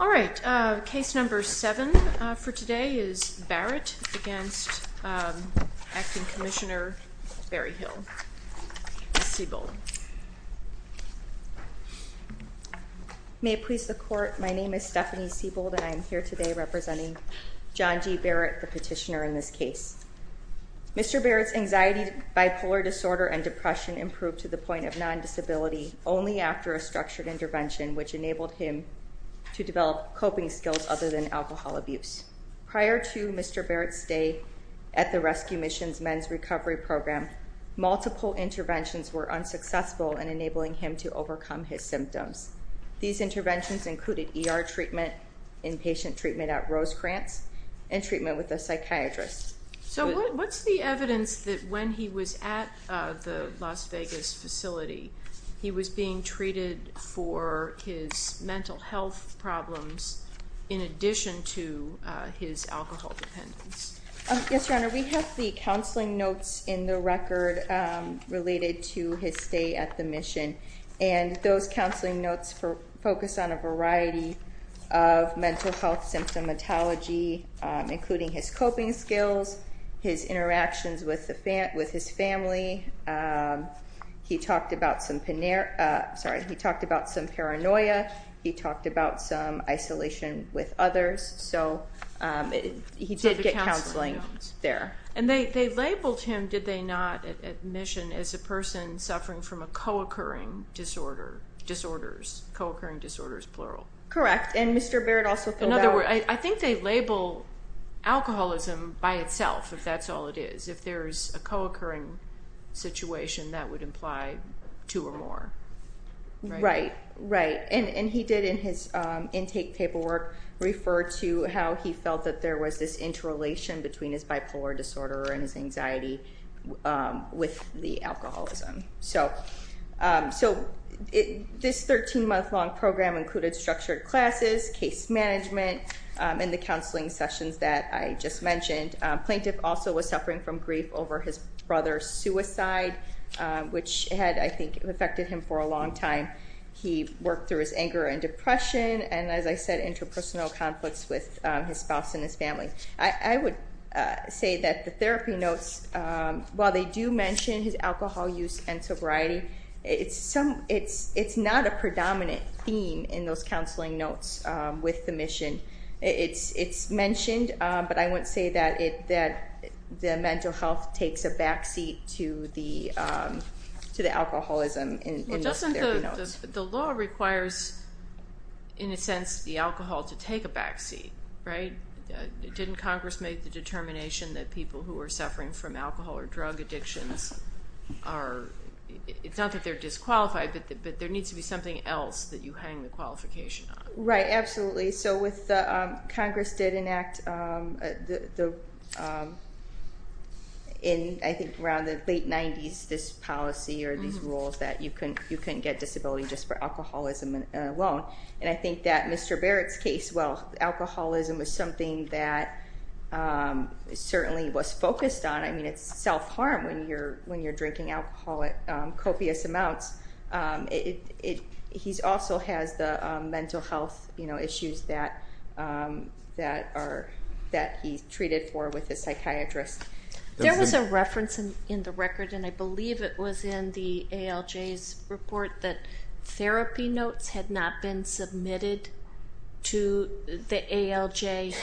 All right, case number 7 for today is Barrett against Acting Commissioner Barry Hill, S.C. May it please the Court, my name is Stephanie Siebold and I am here today representing John G. Barrett, the petitioner in this case. Mr. Barrett's anxiety, bipolar disorder, and depression improved to the point of non-disability only after a structured intervention which enabled him to develop coping skills other than alcohol abuse. Prior to Mr. Barrett's stay at the Rescue Missions Men's Recovery Program, multiple interventions were unsuccessful in enabling him to overcome his symptoms. These interventions included ER treatment, inpatient treatment at Rosecrantz, and treatment with a psychiatrist. So what's the evidence that when he was at the Las Vegas facility, he was being treated for his mental health problems in addition to his alcohol dependence? Yes, Your Honor, we have the counseling notes in the record related to his stay at the mission and those counseling notes focus on a variety of mental health symptomatology including his coping skills, his interactions with his family, he talked about some paranoia, he did get counseling there. And they labeled him, did they not, at mission as a person suffering from a co-occurring disorder, disorders, co-occurring disorders, plural. Correct, and Mr. Barrett also filled out... In other words, I think they label alcoholism by itself if that's all it is, if there's a co-occurring situation that would imply two or more, right? Right, right, and he did in his intake paperwork refer to how he felt that there was this interrelation between his bipolar disorder and his anxiety with the alcoholism. So this 13-month-long program included structured classes, case management, and the counseling sessions that I just mentioned. Plaintiff also was suffering from grief over his brother's suicide, which had, I think, affected him for a long time. He worked through his anger and depression, and as I said, interpersonal conflicts with his spouse and his family. I would say that the therapy notes, while they do mention his alcohol use and sobriety, it's not a predominant theme in those counseling notes with the mission. It's mentioned, but I wouldn't say that the mental health takes a backseat to the alcoholism in those therapy notes. The law requires, in a sense, the alcohol to take a backseat, right? Didn't Congress make the determination that people who are suffering from alcohol or drug addictions are... It's not that they're disqualified, but there needs to be something else that you hang the qualification on. Right, absolutely. With the... Congress did enact, I think, around the late 90s, this policy or these rules that you couldn't get disability just for alcoholism alone. I think that Mr. Barrett's case, well, alcoholism was something that certainly was focused on. It's self-harm when you're drinking alcohol at copious amounts. He also has the mental health issues that he's treated for with his psychiatrist. There was a reference in the record, and I believe it was in the ALJ's report, that therapy notes had not been submitted to the ALJ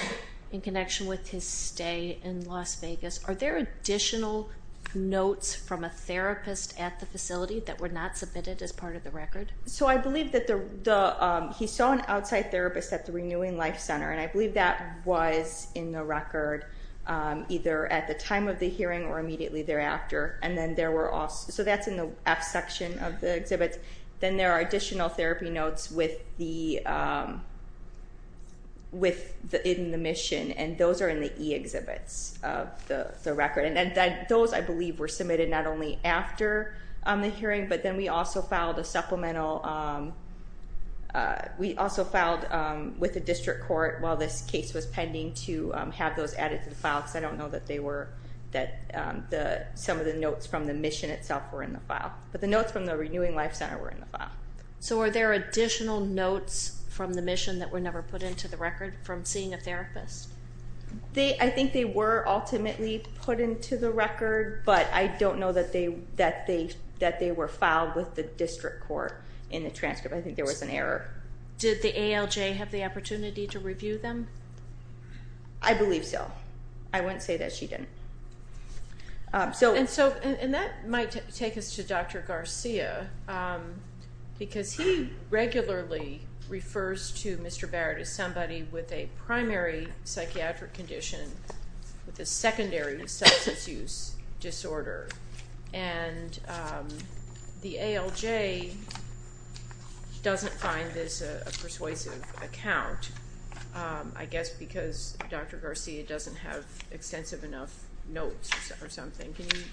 in connection with his stay in Las Vegas. Are there additional notes from a therapist at the facility that were not submitted as part of the record? So I believe that he saw an outside therapist at the Renewing Life Center, and I believe that was in the record either at the time of the hearing or immediately thereafter, and then there were also... So that's in the F section of the exhibits. Then there are additional therapy notes in the mission, and those are in the E exhibits of the record, and those, I believe, were submitted not only after the hearing, but then we also filed a supplemental... We also filed with the district court while this case was pending to have those added to the file, because I don't know that they were... Some of the notes from the mission itself were in the file, but the notes from the Renewing Life Center were in the file. So were there additional notes from the mission that were never put into the record from seeing a therapist? I think they were ultimately put into the record, but I don't know that they were filed with the district court in the transcript. I think there was an error. Did the ALJ have the opportunity to review them? I believe so. I wouldn't say that she didn't. And that might take us to Dr. Garcia, because he regularly refers to Mr. Barrett as somebody with a primary psychiatric condition with a secondary substance use disorder, and the ALJ doesn't find this a persuasive account, I guess because Dr. Garcia doesn't have extensive enough notes or something. Can you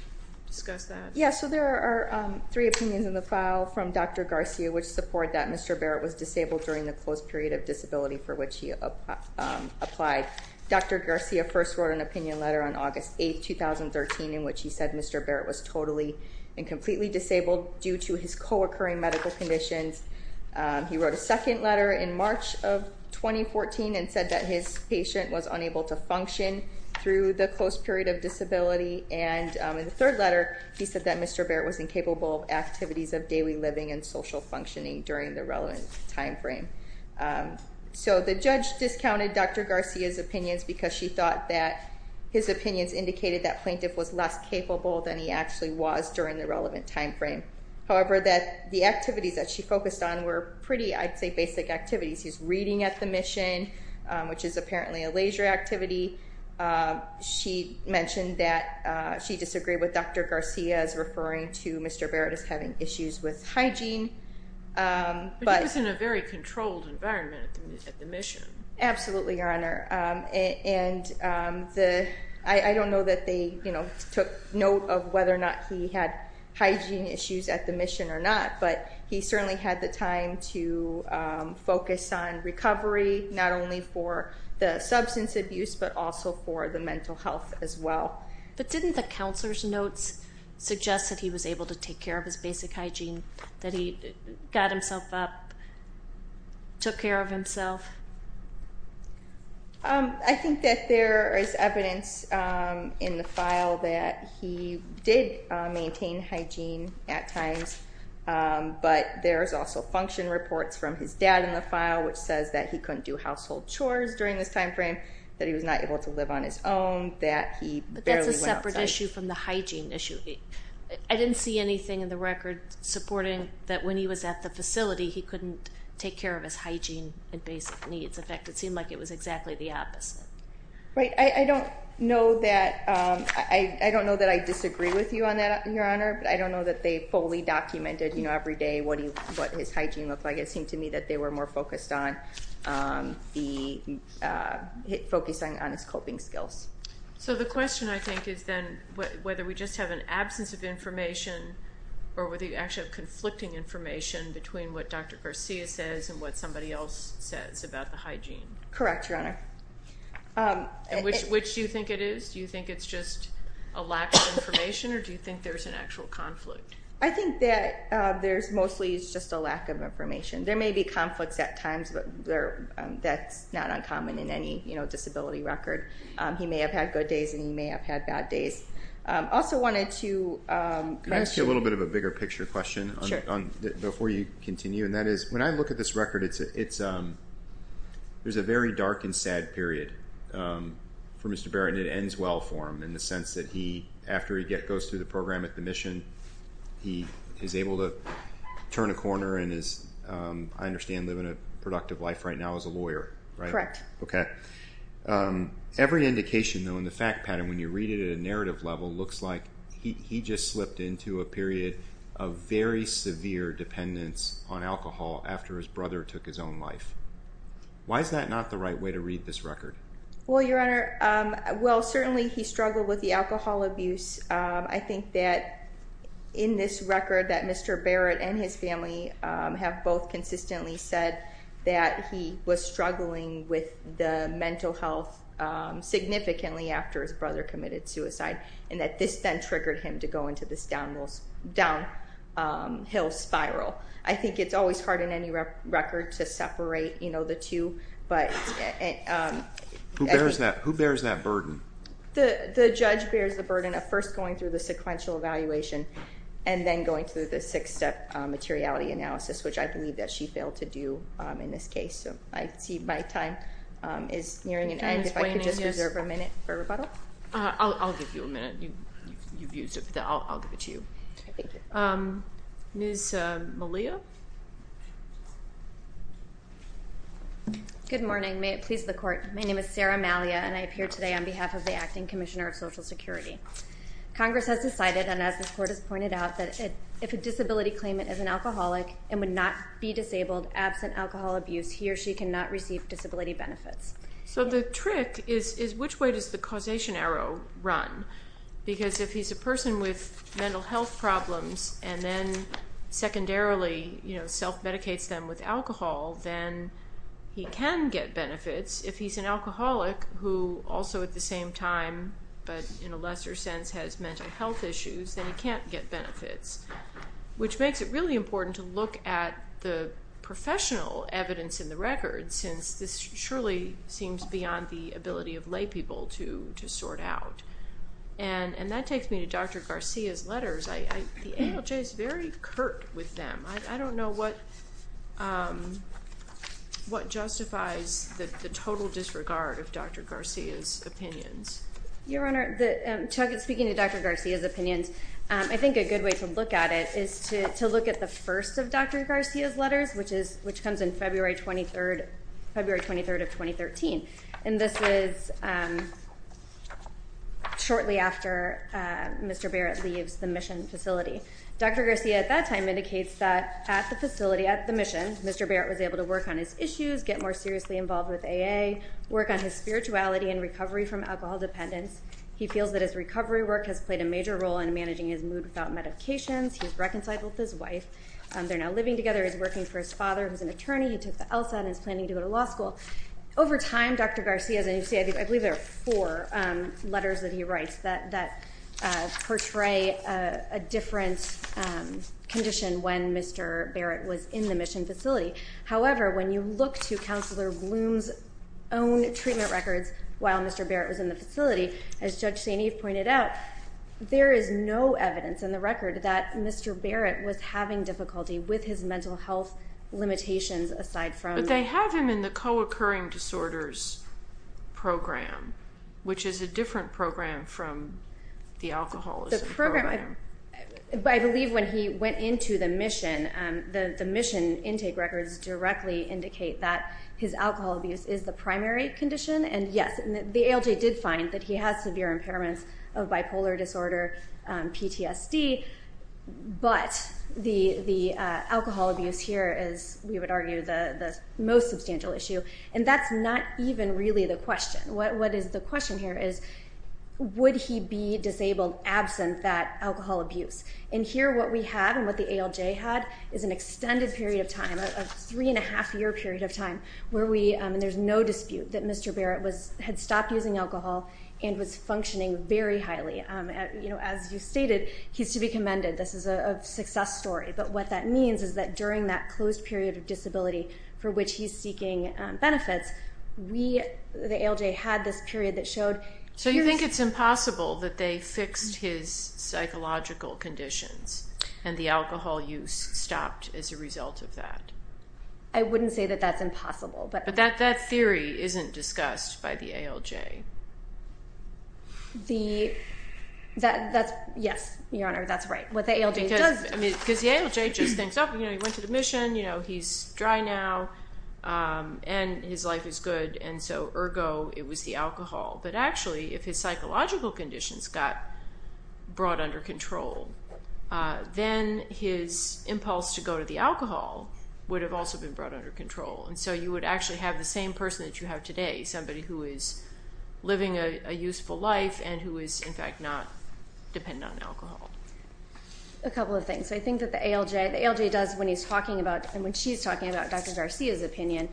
discuss that? Yeah, so there are three opinions in the file from Dr. Garcia which support that Mr. Barrett was disabled during the close period of disability for which he applied. Dr. Garcia first wrote an opinion letter on August 8, 2013, in which he said Mr. Barrett was totally and completely disabled due to his co-occurring medical conditions. He wrote a second letter in March of 2014 and said that his patient was unable to function through the close period of disability, and in the third letter, he said that Mr. Barrett was incapable of activities of daily living and social functioning during the relevant timeframe. So the judge discounted Dr. Garcia's opinions because she thought that his opinions indicated that plaintiff was less capable than he actually was during the relevant timeframe. However, that the activities that she focused on were pretty, I'd say, basic activities. He's reading at the mission, which is apparently a leisure activity. She mentioned that she disagreed with Dr. Garcia's referring to Mr. Barrett as having issues with hygiene. But he was in a very controlled environment at the mission. Absolutely, Your Honor. And I don't know that they, you know, took note of whether or not he had hygiene issues at the mission or not, but he certainly had the time to focus on recovery, not only for the substance abuse, but also for the mental health as well. But didn't the counselor's notes suggest that he was able to take care of his basic hygiene, that he got himself up, took care of himself? I think that there is evidence in the file that he did maintain hygiene at times, but there's also function reports from his dad in the file, which says that he couldn't do it in this time frame, that he was not able to live on his own, that he barely went outside. But that's a separate issue from the hygiene issue. I didn't see anything in the record supporting that when he was at the facility, he couldn't take care of his hygiene and basic needs. In fact, it seemed like it was exactly the opposite. Right. I don't know that I disagree with you on that, Your Honor, but I don't know that they fully documented, you know, every day what his hygiene looked like. It seemed to me that they were more focused on his coping skills. So the question, I think, is then whether we just have an absence of information or whether you actually have conflicting information between what Dr. Garcia says and what somebody else says about the hygiene. Correct, Your Honor. Which do you think it is? Do you think it's just a lack of information, or do you think there's an actual conflict? I think that there's mostly just a lack of information. There may be conflicts at times, but that's not uncommon in any, you know, disability record. He may have had good days and he may have had bad days. Also wanted to... Can I ask you a little bit of a bigger picture question before you continue, and that is when I look at this record, there's a very dark and sad period for Mr. Barrett, and it He is able to turn a corner and is, I understand, living a productive life right now as a lawyer, right? Correct. Okay. Every indication, though, in the fact pattern, when you read it at a narrative level, looks like he just slipped into a period of very severe dependence on alcohol after his brother took his own life. Why is that not the right way to read this record? Well, Your Honor, well, certainly he struggled with the alcohol abuse. And I think that in this record that Mr. Barrett and his family have both consistently said that he was struggling with the mental health significantly after his brother committed suicide, and that this then triggered him to go into this downhill spiral. I think it's always hard in any record to separate, you know, the two, but... Who bears that burden? The judge bears the burden of first going through the sequential evaluation and then going through the six-step materiality analysis, which I believe that she failed to do in this case. So I see my time is nearing an end. If I could just reserve a minute for rebuttal? I'll give you a minute. You've used it, but I'll give it to you. Okay, thank you. Ms. Malia? Good morning. May it please the Court. My name is Sarah Malia, and I appear today on behalf of the Acting Commissioner of Social Security. Congress has decided, and as the Court has pointed out, that if a disability claimant is an alcoholic and would not be disabled absent alcohol abuse, he or she cannot receive disability benefits. So the trick is, which way does the causation arrow run? Because if he's a person with mental health problems and then secondarily, you know, self-medicates them with alcohol, then he can get benefits. If he's an alcoholic who also at the same time, but in a lesser sense, has mental health issues, then he can't get benefits, which makes it really important to look at the professional evidence in the records, since this surely seems beyond the ability of laypeople to sort out. And that takes me to Dr. Garcia's letters. The ALJ is very curt with them. I don't know what justifies the total disregard of Dr. Garcia's opinions. Your Honor, speaking of Dr. Garcia's opinions, I think a good way to look at it is to look at the first of Dr. Garcia's letters, which comes in February 23rd of 2013. And this is shortly after Mr. Barrett leaves the mission facility. Dr. Garcia at that time indicates that at the facility, at the mission, Mr. Barrett was able to work on his issues, get more seriously involved with AA, work on his spirituality and recovery from alcohol dependence. He feels that his recovery work has played a major role in managing his mood without medications. He's reconciled with his wife. They're now living together. He's working for his father, who's an attorney. He took the ELSA and is planning to go to law school. Over time, Dr. Garcia's, and you see, I believe there are four letters that he writes that portray a different condition when Mr. Barrett was in the mission facility. However, when you look to Counselor Bloom's own treatment records while Mr. Barrett was in the facility, as Judge St. Eve pointed out, there is no evidence in the record that Mr. Barrett was having difficulty with his mental health limitations aside from... which is a different program from the alcoholism program. I believe when he went into the mission, the mission intake records directly indicate that his alcohol abuse is the primary condition, and yes, the ALJ did find that he has severe impairments of bipolar disorder, PTSD, but the alcohol abuse here is, we would argue, the most substantial issue, and that's not even really the question. What is the question here is, would he be disabled absent that alcohol abuse? And here, what we have and what the ALJ had is an extended period of time, a three-and-a-half year period of time, where we... and there's no dispute that Mr. Barrett had stopped using alcohol and was functioning very highly. As you stated, he's to be commended. This is a success story, but what that means is that during that closed period of disability for which he's seeking benefits, we, the ALJ, had this period that showed... So you think it's impossible that they fixed his psychological conditions and the alcohol use stopped as a result of that? I wouldn't say that that's impossible, but... But that theory isn't discussed by the ALJ? The... that's... yes, Your Honor, that's right. What the ALJ does... And his life is good, and so, ergo, it was the alcohol. But actually, if his psychological conditions got brought under control, then his impulse to go to the alcohol would have also been brought under control. And so you would actually have the same person that you have today, somebody who is living a useful life and who is, in fact, not dependent on alcohol. A couple of things. I think that the ALJ... The ALJ does, when he's talking about, and when she's talking about Dr. Garcia's opinion,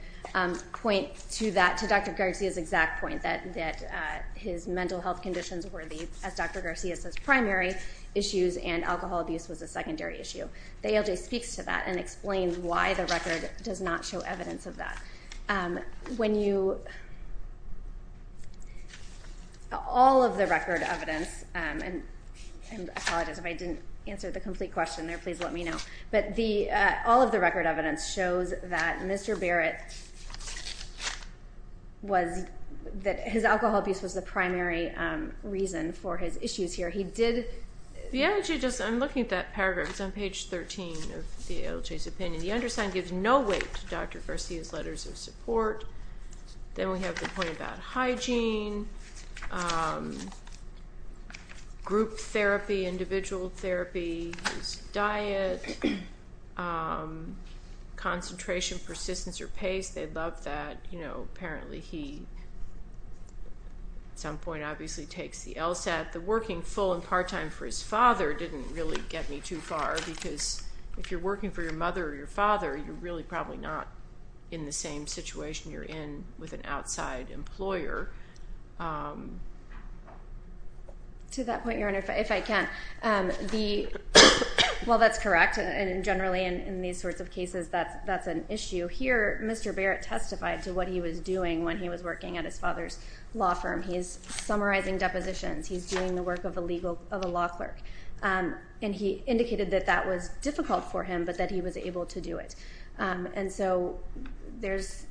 point to that, to Dr. Garcia's exact point, that his mental health conditions were the, as Dr. Garcia says, primary issues, and alcohol abuse was a secondary issue. The ALJ speaks to that and explains why the record does not show evidence of that. When you... All of the record evidence... And I apologize if I didn't answer the complete question there. Please let me know. But all of the record evidence shows that Mr. Barrett was... That his alcohol abuse was the primary reason for his issues here. He did... The ALJ just... I'm looking at that paragraph. It's on page 13 of the ALJ's opinion. The undersigned gives no weight to Dr. Garcia's letters of support. Then we have the point about hygiene, group therapy, individual therapy, his diet, concentration, persistence, or pace. They love that. Apparently, he, at some point, obviously, takes the LSAT. The working full and part-time for his father didn't really get me too far, you're really probably not in the same situation you're in with an outside employer. To that point, Your Honor, if I can, the... Well, that's correct. And generally, in these sorts of cases, that's an issue. Here, Mr. Barrett testified to what he was doing when he was working at his father's law firm. He's summarizing depositions. He's doing the work of a legal...of a law clerk. And he indicated that that was difficult for him, but that he was able to do it. And so there's...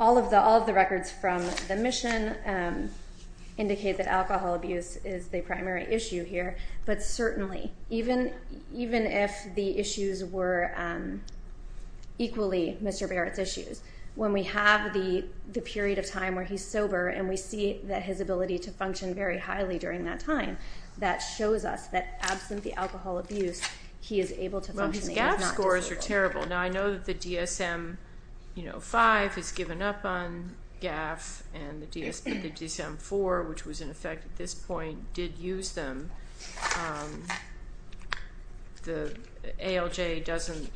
All of the records from the mission indicate that alcohol abuse is the primary issue here. But certainly, even if the issues were equally Mr. Barrett's issues, when we have the period of time where he's sober and we see that his ability to function very highly during that time, that shows us that, absent the alcohol abuse, he is able to function... Well, his GAF scores are terrible. Now, I know that the DSM-5 has given up on GAF and the DSM-4, which was in effect at this point, did use them. The ALJ doesn't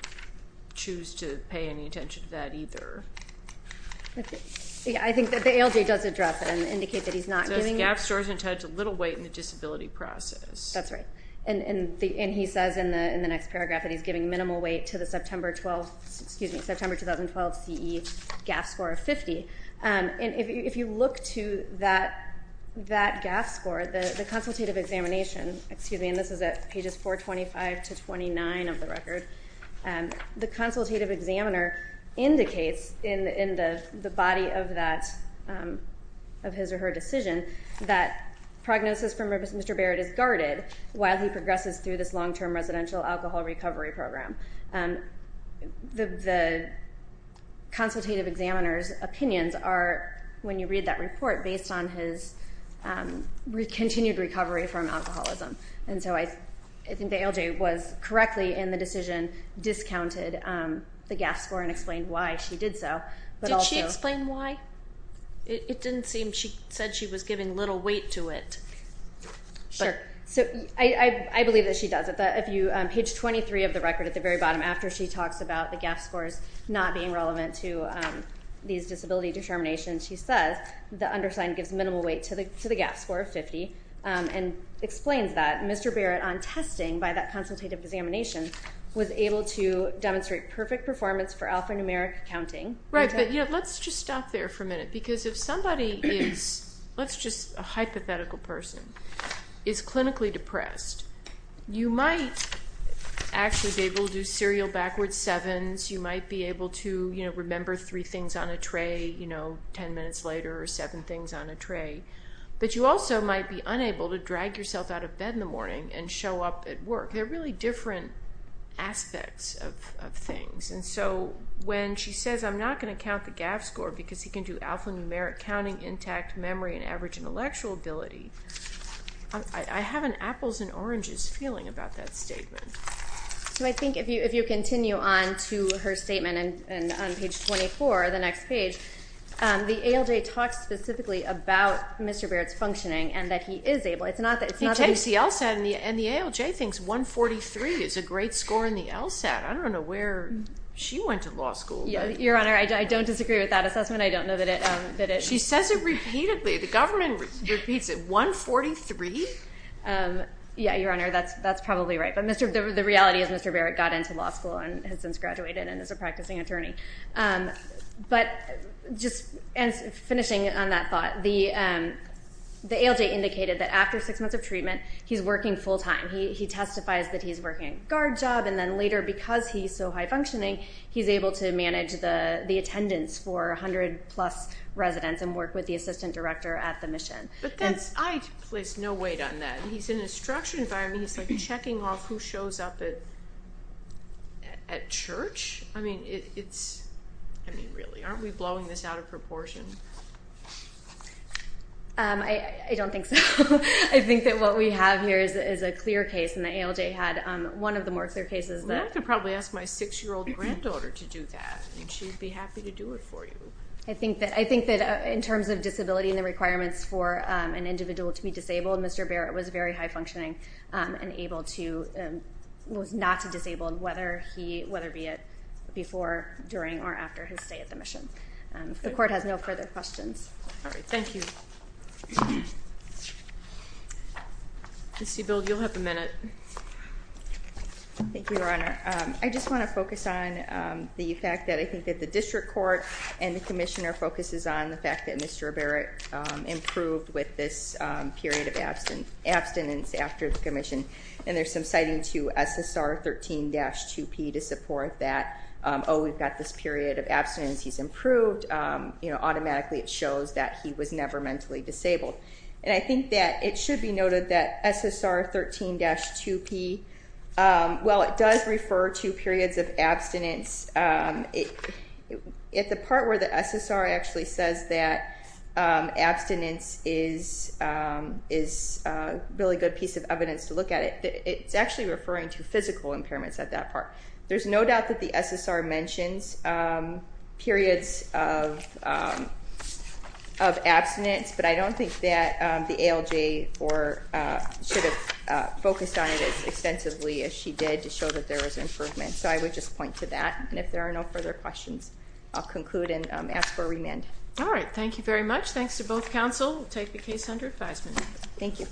choose to pay any attention to that either. I think that the ALJ does address that and indicate that he's not giving... The GAF score is entitled to little weight in the disability process. That's right. And he says in the next paragraph that he's giving minimal weight to the September 2012 CE GAF score of 50. And if you look to that GAF score, the consultative examination, and this is at pages 425 to 429 of the record, the consultative examiner indicates in the body of his or her decision that prognosis from Mr. Barrett is guarded while he progresses through this long-term residential alcohol recovery program. The consultative examiner's opinions are, when you read that report, based on his continued recovery from alcoholism. And so I think the ALJ was correctly, in the decision, discounted the GAF score and explained why she did so. Did she explain why? It didn't seem she said she was giving little weight to it. Sure. So I believe that she does. Page 23 of the record at the very bottom, after she talks about the GAF scores not being relevant to these disability determinations, she says the undersigned gives minimal weight to the GAF score of 50 and explains that Mr. Barrett, on testing by that consultative examination, was able to demonstrate perfect performance for alphanumeric counting. Right, but let's just stop there for a minute. Because if somebody is, let's just, a hypothetical person, is clinically depressed, you might actually be able to do serial backwards sevens. You might be able to remember three things on a tray 10 minutes later or seven things on a tray. But you also might be unable to drag yourself out of bed in the morning and show up at work. They're really different aspects of things. And so when she says, I'm not going to count the GAF score because he can do alphanumeric counting, intact memory, and average intellectual ability, I have an apples and oranges feeling about that statement. So I think if you continue on to her statement on page 24, the next page, the ALJ talks specifically about Mr. Barrett's functioning and that he is able. He takes the LSAT and the ALJ thinks 143 is a great score in the LSAT. I don't know where she went to law school. Your Honor, I don't disagree with that assessment. I don't know that it. She says it repeatedly. The government repeats it. 143? Yeah, Your Honor, that's probably right. But the reality is Mr. Barrett got into law school and has since graduated and is a practicing attorney. But just finishing on that thought, the ALJ indicated that after six months of treatment, he's working full-time. He testifies that he's working a guard job. And then later, because he's so high-functioning, he's able to manage the attendance for 100-plus residents and work with the assistant director at the mission. But I place no weight on that. He's in a structured environment. He's checking off who shows up at church. I mean, really, aren't we blowing this out of proportion? I don't think so. I think that what we have here is a clear case, and the ALJ had one of the more clear cases. Well, I could probably ask my six-year-old granddaughter to do that, and she'd be happy to do it for you. I think that in terms of disability and the requirements for an individual to be disabled, Mr. Barrett was very high-functioning and able to and was not disabled, whether be it before, during, or after his stay at the mission. If the court has no further questions. All right, thank you. Ms. Siebel, you'll have a minute. Thank you, Your Honor. I just want to focus on the fact that I think that the district court and the commissioner focuses on the fact that he had this period of abstinence after the commission, and there's some citing to SSR 13-2P to support that. Oh, we've got this period of abstinence. He's improved. Automatically, it shows that he was never mentally disabled, and I think that it should be noted that SSR 13-2P, well, it does refer to periods of abstinence. At the part where the SSR actually says that abstinence is a really good piece of evidence to look at, it's actually referring to physical impairments at that part. There's no doubt that the SSR mentions periods of abstinence, but I don't think that the ALJ should have focused on it as extensively as she did to show that there was improvement. So I would just point to that, and if there are no further questions, I'll conclude and ask for remand. All right. Thank you very much. Thanks to both counsel. We'll take the case under advisement. Thank you.